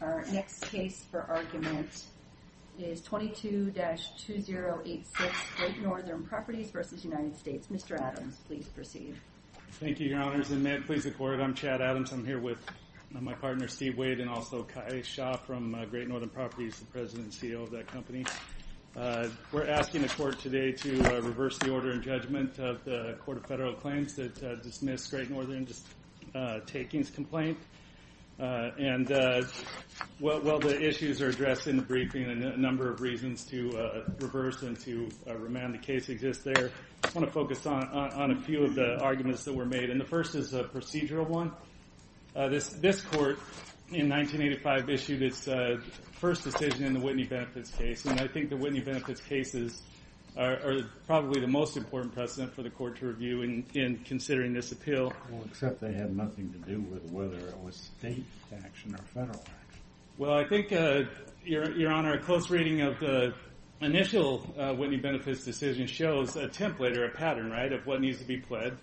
Our next case for argument is 22-2086, Great Northern Properties v. United States. Mr. Adams, please proceed. Thank you, Your Honors, and may it please the Court, I'm Chad Adams. I'm here with my partner, Steve Wade, and also Kai Shaw from Great Northern Properties, the President and CEO of that company. We're asking the Court today to reverse the order and judgment of the Court of Federal Claims that dismissed Great Northern's takings complaint. While the issues are addressed in the briefing and a number of reasons to reverse and to remand the case exist there, I want to focus on a few of the arguments that were made. The first is a procedural one. This Court, in 1985, issued its first decision in the Whitney Benefits case. I think the Whitney Benefits case is probably the most important precedent for the Court to review in considering this appeal. Except they had nothing to do with whether it was state action or federal action. I think, Your Honor, a close reading of the initial Whitney Benefits decision shows a template or a pattern of what needs to be pled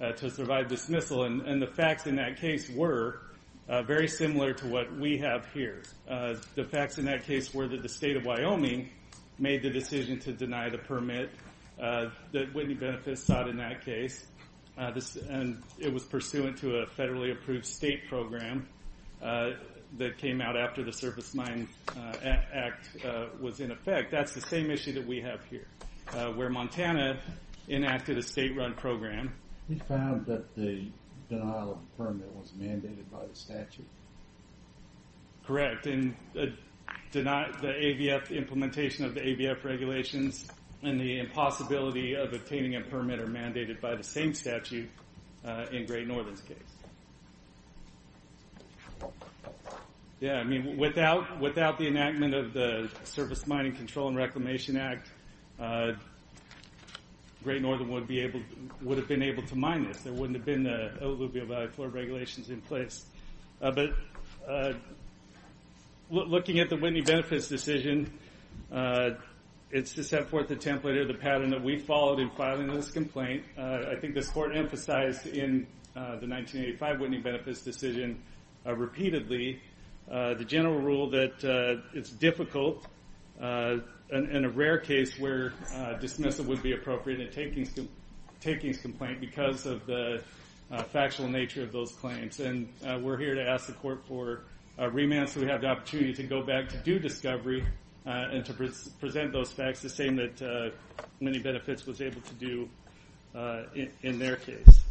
to survive dismissal. The facts in that case were very similar to what we have here. The facts in that case were that the State of Wyoming made the decision to deny the permit that Whitney Benefits sought in that case. It was pursuant to a federally approved state program that came out after the Surface Mine Act was in effect. That's the same issue that we have here, where Montana enacted a state-run program. We found that the denial of the permit was mandated by the statute. Correct. The implementation of the AVF regulations and the impossibility of obtaining a permit are mandated by the same statute in Great Northern's case. Without the enactment of the Surface Mining Control and Reclamation Act, Great Northern would have been able to mine this. There wouldn't have been the alluvial value floor regulations in place. Looking at the Whitney Benefits decision, it's to set forth the template or the pattern that we followed in filing this complaint. I think this Court emphasized in the 1985 Whitney Benefits decision repeatedly the general rule that it's difficult in a rare case where dismissal would be appropriate in a takings complaint because of the factual nature of those claims. We're here to ask the Court for remand so we have the opportunity to go back to do discovery and to present those facts, the same that Whitney Benefits was able to do in their case.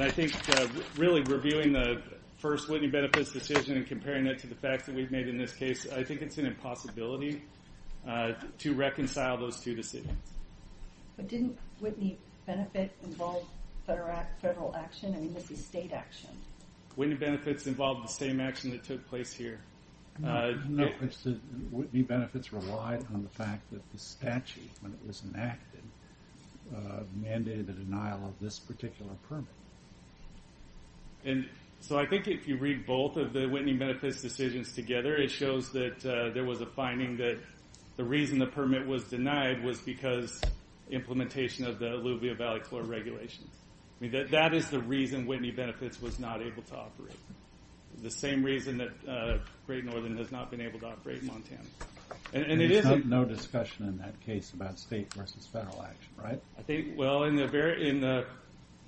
I think really reviewing the first Whitney Benefits decision and comparing it to the facts that we've made in this case, I think it's an impossibility to reconcile those two decisions. Didn't Whitney Benefits involve federal action? I mean, this is state action. Whitney Benefits involved the same action that took place here. Whitney Benefits relied on the fact that the statute, when it was enacted, mandated the denial of this particular permit. So I think if you read both of the Whitney Benefits decisions together, it shows that there was a finding that the reason the permit was denied was because implementation of the Alluvia Valley Floor Regulations. That is the reason Whitney Benefits was not able to operate. The same reason that Great Northern has not been able to operate in Montana. There's no discussion in that case about state versus federal action, right? I think, well, in the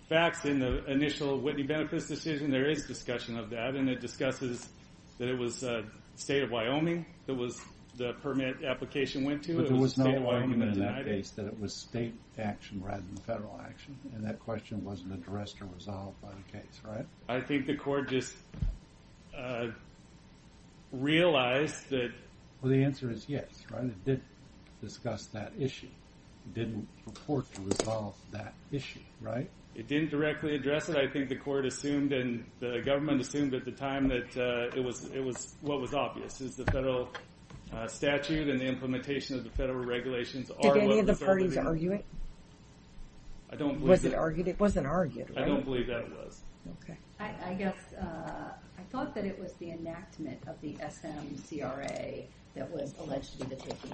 facts in the initial Whitney Benefits decision, there is discussion of that. And it discusses that it was the state of Wyoming that the permit application went to. But there was no argument in that case that it was state action rather than federal action. And that question wasn't addressed or resolved by the case, right? I think the court just realized that... Well, the answer is yes. It did discuss that issue. It didn't report to resolve that issue, right? It didn't directly address it. I think the court assumed and the government assumed at the time that it was what was obvious. It was the federal statute and the implementation of the federal regulations are what... Did any of the parties argue it? Was it argued? It wasn't argued, right? I don't believe that it was. I guess I thought that it was the enactment of the SMCRA that was alleged to be the taking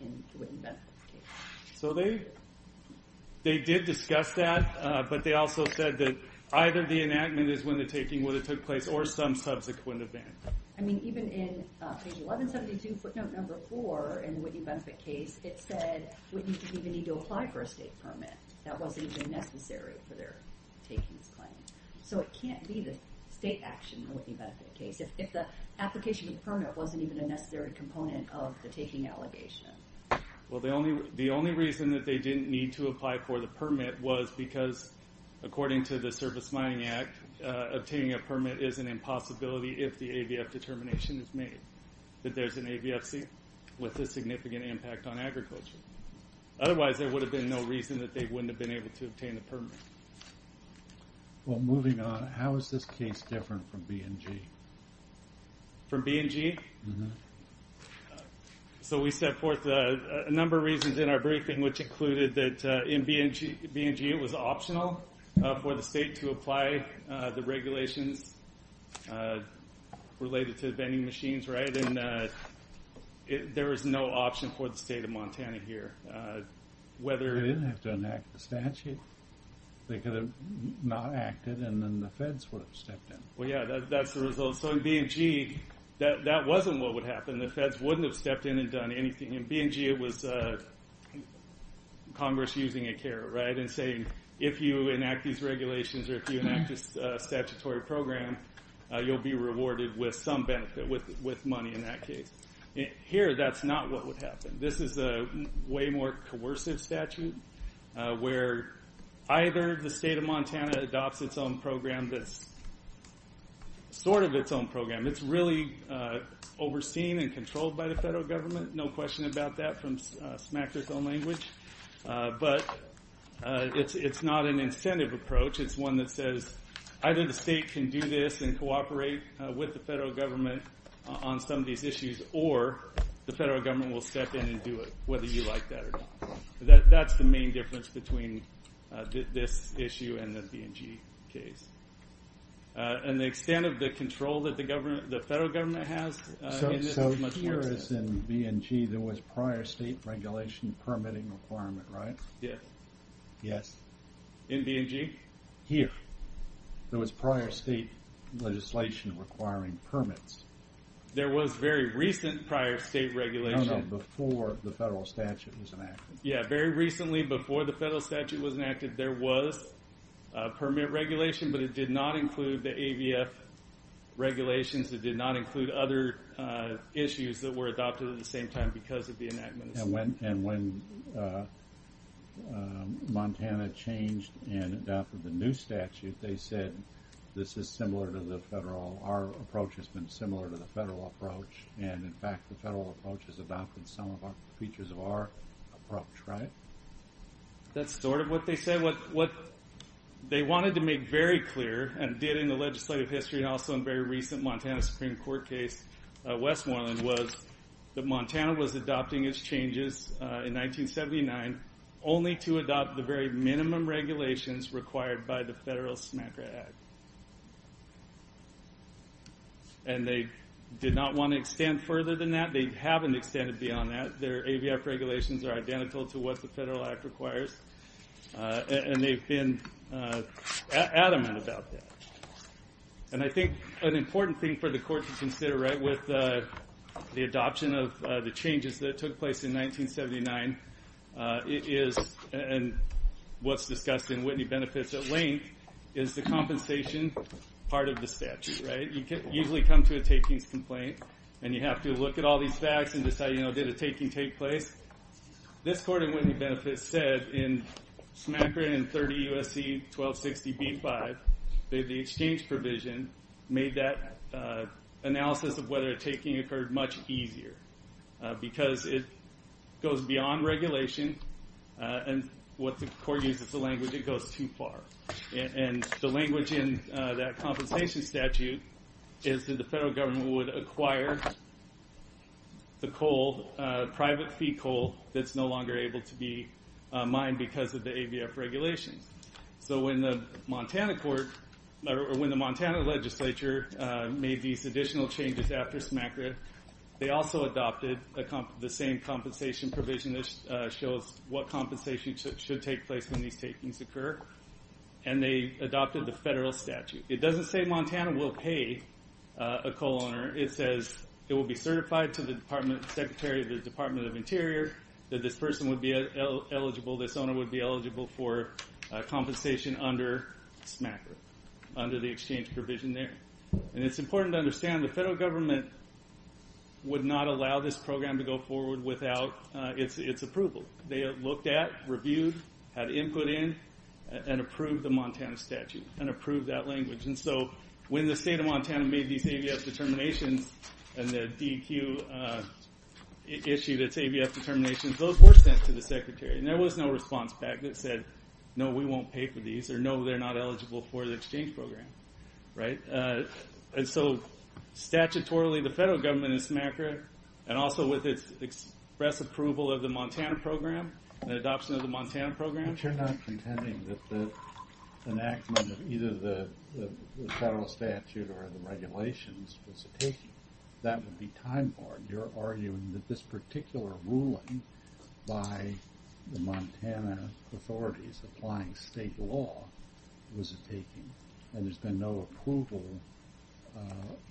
in the Whitney Benefits case. So they did discuss that, but they also said that either the enactment is when the taking would have took place or some subsequent event. I mean, even in page 1172, footnote number 4 in the Whitney Benefits case, it said Whitney didn't even need to apply for a state permit. That wasn't even necessary for their taking's claim. So it can't be the state action in the Whitney Benefits case if the application of the permit wasn't even a necessary component of the taking allegation. Well, the only reason that they didn't need to apply for the permit was because, according to the Service Mining Act, obtaining a permit is an impossibility if the ABF determination is made that there's an ABFC with a significant impact on agriculture. Otherwise, there would have been no reason that they wouldn't have been able to obtain a permit. Well, moving on, how is this case different from B&G? From B&G? Mm-hmm. So we set forth a number of reasons in our briefing, which included that in B&G it was optional for the state to apply the regulations related to vending machines, right? There was no option for the state of Montana here. They didn't have to enact the statute. They could have not acted, and then the feds would have stepped in. Well, yeah, that's the result. So in B&G, that wasn't what would happen. The feds wouldn't have stepped in and done anything. In B&G, it was Congress using a carrot, right, and saying, if you enact these regulations or if you enact a statutory program, you'll be rewarded with some benefit, with money in that case. Here, that's not what would happen. This is a way more coercive statute where either the state of Montana adopts its own program that's sort of its own program. It's really overseen and controlled by the federal government. No question about that from smack-to-tone language. But it's not an incentive approach. It's one that says either the state can do this and cooperate with the federal government on some of these issues, or the federal government will step in and do it, whether you like that or not. That's the main difference between this issue and the B&G case. And the extent of the control that the federal government has in this is much worse. As far as in B&G, there was prior state regulation permitting requirement, right? Yeah. Yes. In B&G? Here. There was prior state legislation requiring permits. There was very recent prior state regulation. No, no, before the federal statute was enacted. Yeah, very recently before the federal statute was enacted, there was permit regulation, but it did not include the AVF regulations. It did not include other issues that were adopted at the same time because of the enactment. And when Montana changed and adopted the new statute, they said this is similar to the federal. Our approach has been similar to the federal approach. And, in fact, the federal approach has adopted some of the features of our approach, right? That's sort of what they said. And what they wanted to make very clear and did in the legislative history and also in very recent Montana Supreme Court case, Westmoreland, was that Montana was adopting its changes in 1979 only to adopt the very minimum regulations required by the federal SMACRA Act. And they did not want to extend further than that. They haven't extended beyond that. Their AVF regulations are identical to what the federal act requires, and they've been adamant about that. And I think an important thing for the court to consider, right, with the adoption of the changes that took place in 1979, and what's discussed in Whitney Benefits at length, is the compensation part of the statute, right? You usually come to a takings complaint and you have to look at all these facts and decide, you know, did a taking take place? This court in Whitney Benefits said in SMACRA in 30 U.S.C. 1260b-5, that the exchange provision made that analysis of whether a taking occurred much easier because it goes beyond regulation, and what the court uses is a language that goes too far. And the language in that compensation statute is that the federal government would acquire the coal, private fee coal that's no longer able to be mined because of the AVF regulations. So when the Montana court, or when the Montana legislature made these additional changes after SMACRA, they also adopted the same compensation provision that shows what compensation should take place when these takings occur, and they adopted the federal statute. It doesn't say Montana will pay a coal owner. It says it will be certified to the department secretary of the Department of Interior that this person would be eligible, this owner would be eligible for compensation under SMACRA, under the exchange provision there. And it's important to understand the federal government would not allow this program to go forward without its approval. They looked at, reviewed, had input in, and approved the Montana statute and approved that language. And so when the state of Montana made these AVF determinations and the DEQ issued its AVF determinations, those were sent to the secretary, and there was no response back that said, no, we won't pay for these, or no, they're not eligible for the exchange program. Right? And so statutorily, the federal government in SMACRA, and also with its express approval of the Montana program, the adoption of the Montana program. But you're not pretending that the enactment of either the federal statute or the regulations was a taking. That would be time borne. You're arguing that this particular ruling by the Montana authorities applying state law was a taking, and there's been no approval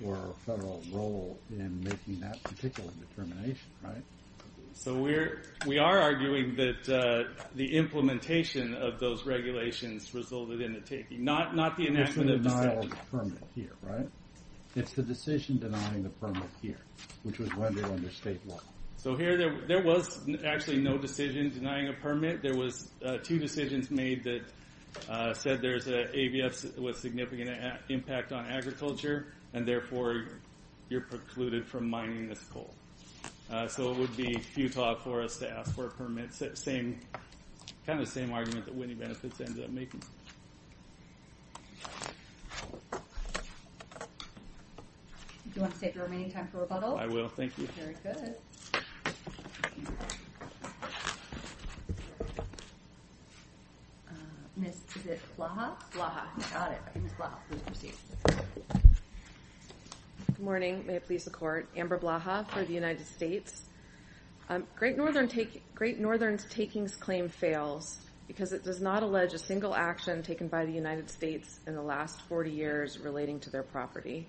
or federal role in making that particular determination, right? So we are arguing that the implementation of those regulations resulted in a taking, not the enactment of the statute. It's the decision denying the permit here, right? So here there was actually no decision denying a permit. There was two decisions made that said there's an AVF with significant impact on agriculture, and therefore you're precluded from mining this coal. So it would be futile for us to ask for a permit. Kind of the same argument that Winnie Benefits ended up making. Do you want to take your remaining time for rebuttal? I will, thank you. Very good. Ms. Blaha? Blaha, got it. Ms. Blaha, please proceed. Good morning. May it please the Court. Amber Blaha for the United States. Great Northern's takings claim fails because it does not allege a single action taken by the United States in the last 40 years relating to their property.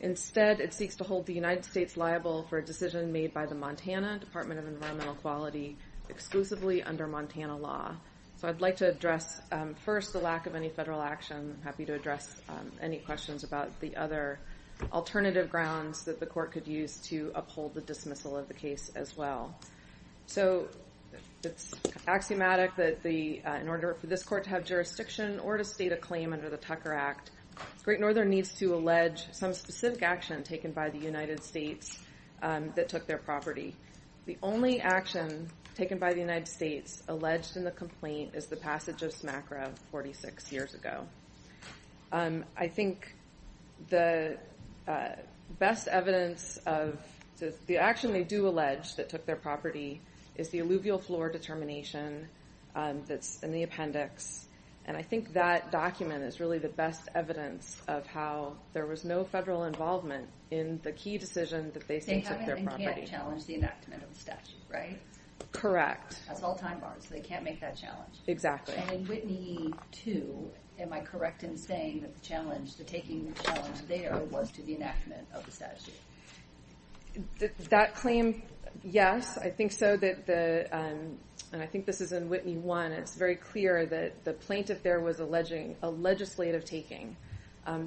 Instead, it seeks to hold the United States liable for a decision made by the Montana Department of Environmental Quality exclusively under Montana law. So I'd like to address first the lack of any federal action. I'm happy to address any questions about the other alternative grounds that the Court could use to uphold the dismissal of the case as well. So it's axiomatic that in order for this Court to have jurisdiction or to state a claim under the Tucker Act, Great Northern needs to allege some specific action taken by the United States that took their property. The only action taken by the United States alleged in the complaint is the passage of SMACRA 46 years ago. I think the best evidence of the action they do allege that took their property is the alluvial floor determination that's in the appendix. And I think that document is really the best evidence of how there was no federal involvement in the key decision that they sent to their property. They have and can't challenge the enactment of the statute, right? Correct. That's all time barred, so they can't make that challenge. Exactly. And in Whitney 2, am I correct in saying that the challenge, the taking challenge there was to the enactment of the statute? That claim, yes, I think so. And I think this is in Whitney 1. It's very clear that the plaintiff there was alleging a legislative taking.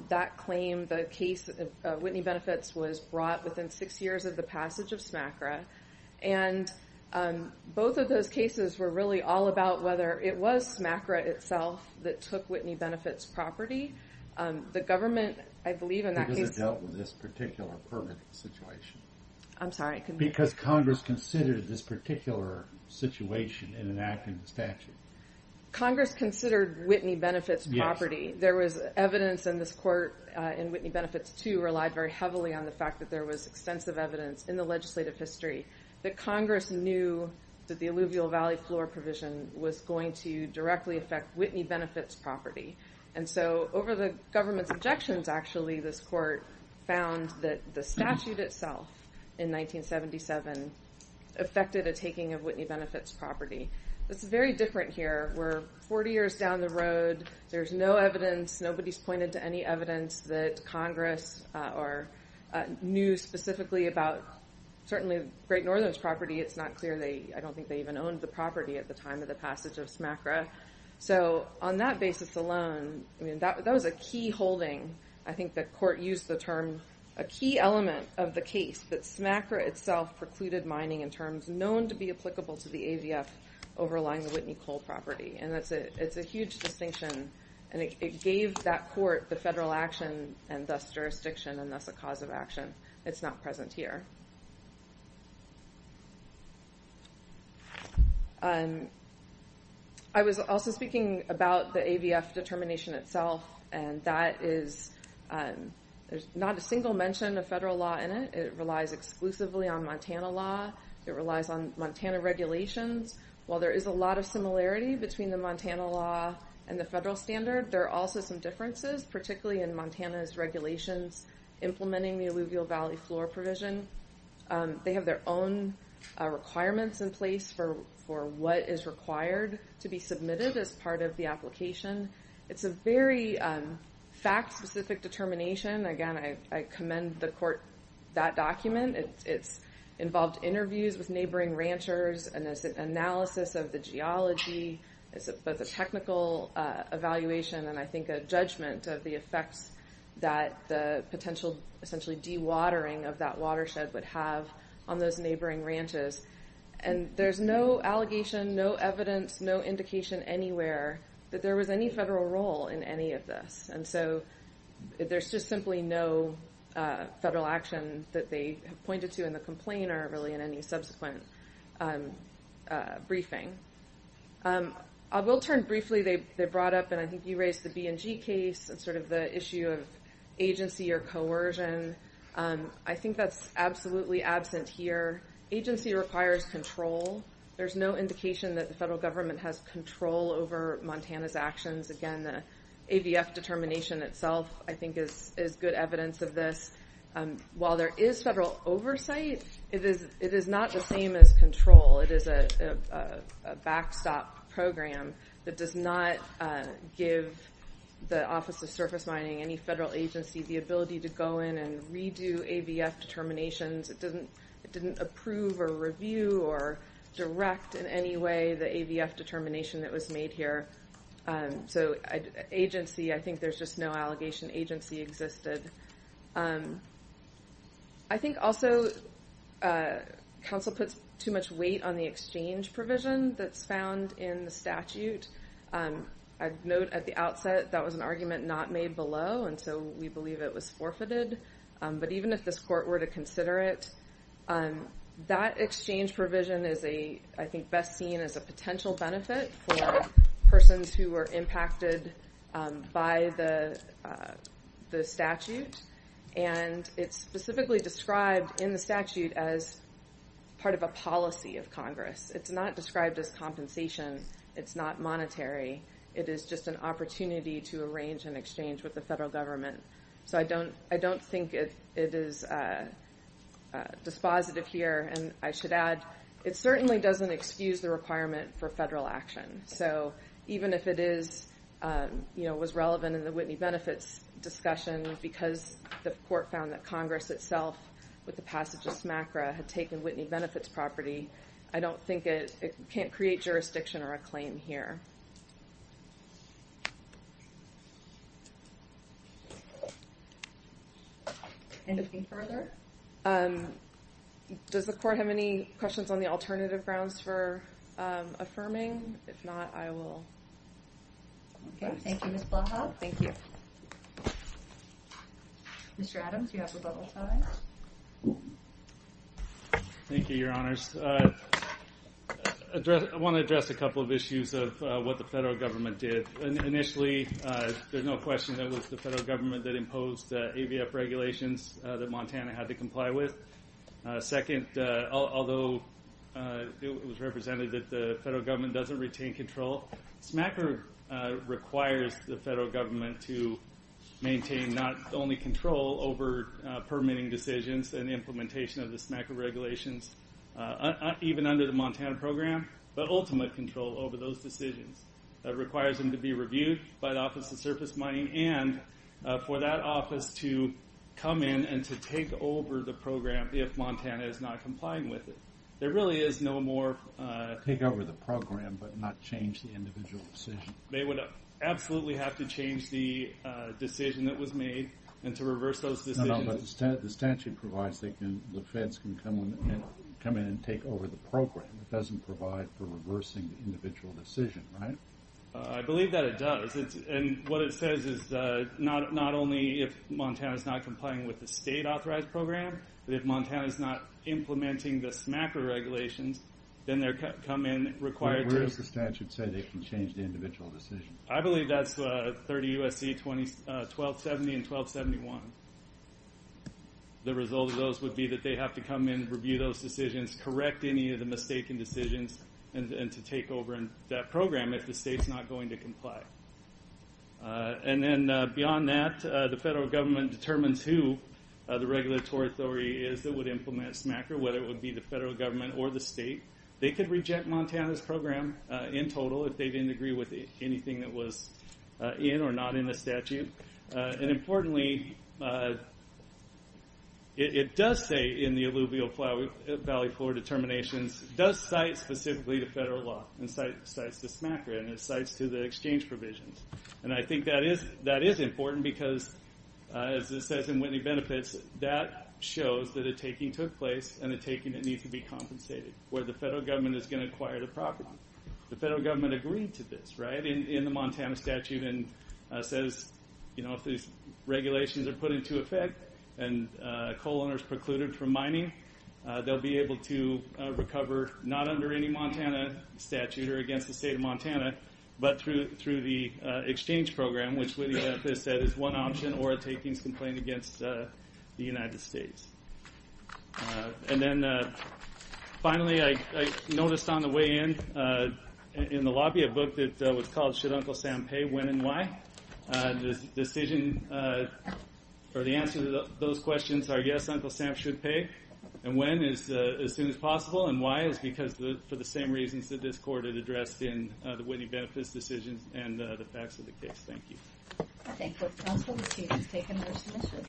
That claim, the case of Whitney Benefits, was brought within six years of the passage of SMACRA. And both of those cases were really all about whether it was SMACRA itself that took Whitney Benefits' property. The government, I believe, in that case... I'm sorry. Because Congress considered this particular situation in enacting the statute. Congress considered Whitney Benefits' property. There was evidence in this court in Whitney Benefits 2 relied very heavily on the fact that there was extensive evidence in the legislative history that Congress knew that the alluvial valley floor provision was going to directly affect Whitney Benefits' property. And so over the government's objections, actually, this court found that the statute itself in 1977 affected a taking of Whitney Benefits' property. It's very different here. We're 40 years down the road. There's no evidence. Nobody's pointed to any evidence that Congress knew specifically about certainly Great Northern's property. It's not clear. I don't think they even owned the property at the time of the passage of SMACRA. So on that basis alone, that was a key holding. I think the court used the term... A key element of the case that SMACRA itself precluded mining in terms known to be applicable to the AVF overlying the Whitney Coal property. And it's a huge distinction. And it gave that court the federal action and thus jurisdiction and thus a cause of action. It's not present here. I was also speaking about the AVF determination itself. And that is... There's not a single mention of federal law in it. It relies exclusively on Montana law. It relies on Montana regulations. While there is a lot of similarity between the Montana law and the federal standard, there are also some differences, particularly in Montana's regulations, implementing the alluvial valley floor provision. They have their own requirements in place for what is required to be submitted as part of the application. It's a very fact-specific determination. Again, I commend the court that document. It's involved interviews with neighboring ranchers and there's an analysis of the geology. It's both a technical evaluation and I think a judgment of the effects that the potential essentially dewatering of that watershed would have on those neighboring ranches. And there's no allegation, no evidence, no indication anywhere that there was any federal role in any of this. And so there's just simply no federal action that they pointed to in the complaint or really in any subsequent briefing. I will turn briefly... They brought up and I think you raised the B&G case and sort of the issue of agency or coercion. I think that's absolutely absent here. Agency requires control. There's no indication that the federal government has control over Montana's actions. Again, the ABF determination itself I think is good evidence of this. While there is federal oversight, it is not the same as control. It is a backstop program that does not give the Office of Surface Mining, any federal agency, the ability to go in and redo ABF determinations. It didn't approve or review or direct in any way the ABF determination that was made here. So agency, I think there's just no allegation agency existed. I think also counsel puts too much weight on the exchange provision that's found in the statute. I'd note at the outset that was an argument not made below and so we believe it was forfeited. But even if this court were to consider it, that exchange provision is I think best seen as a potential benefit for persons who were impacted by the statute. And it's specifically described in the statute as part of a policy of Congress. It's not described as compensation. It's not monetary. It is just an opportunity to arrange an exchange with the federal government. So I don't think it is dispositive here. And I should add, it certainly doesn't excuse the requirement for federal action. So even if it was relevant in the Whitney Benefits discussion because the court found that Congress itself with the passage of SMACRA had taken Whitney Benefits property, I don't think it can't create jurisdiction or a claim here. Anything further? Does the court have any questions on the alternative grounds for affirming? If not, I will. Okay. Thank you, Ms. Blaha. Thank you. Mr. Adams, you have the bubble time. Thank you, Your Honors. I want to address a couple of issues of what the federal government did. Initially, there's no question that it was the federal government that imposed the AVF regulations that Montana had to comply with. Second, although it was represented that the federal government doesn't retain control, SMACRA requires the federal government to maintain not only control over permitting decisions and implementation of the SMACRA regulations, even under the Montana program, but ultimate control over those decisions. It requires them to be reviewed by the Office of Surface Mining and for that office to come in and to take over the program if Montana is not complying with it. There really is no more... Take over the program but not change the individual decision. They would absolutely have to change the decision that was made and to reverse those decisions. No, no, but the statute provides the feds can come in and take over the program. It doesn't provide for reversing the individual decision, right? I believe that it does. What it says is not only if Montana is not complying with the state-authorized program, but if Montana is not implementing the SMACRA regulations, then they come in required to... Where does the statute say they can change the individual decision? I believe that's 30 U.S.C. 1270 and 1271. The result of those would be that they have to come in, review those decisions, correct any of the mistaken decisions, and to take over that program if the state's not going to comply. Beyond that, the federal government determines who the regulatory authority is that would implement SMACRA, whether it would be the federal government or the state. They could reject Montana's program in total if they didn't agree with anything that was in or not in the statute. Importantly, it does say in the alluvial valley floor determinations, it does cite specifically to federal law and cites to SMACRA and cites to the exchange provisions. I think that is important because, as it says in Whitney Benefits, that shows that a taking took place and a taking that needs to be compensated, where the federal government is going to acquire the property. The federal government agreed to this in the Montana statute and says if these regulations are put into effect and coal owners precluded from mining, they'll be able to recover not under any Montana statute or against the state of Montana, but through the exchange program, which Whitney Benefits said is one option or a takings complaint against the United States. Finally, I noticed on the way in, in the lobby, a book that was called Should Uncle Sam Pay? When and Why? The answer to those questions are yes, Uncle Sam should pay, and when is as soon as possible, and why is because for the same reasons that this court had addressed in the Whitney Benefits decisions and the facts of the case. Thank you.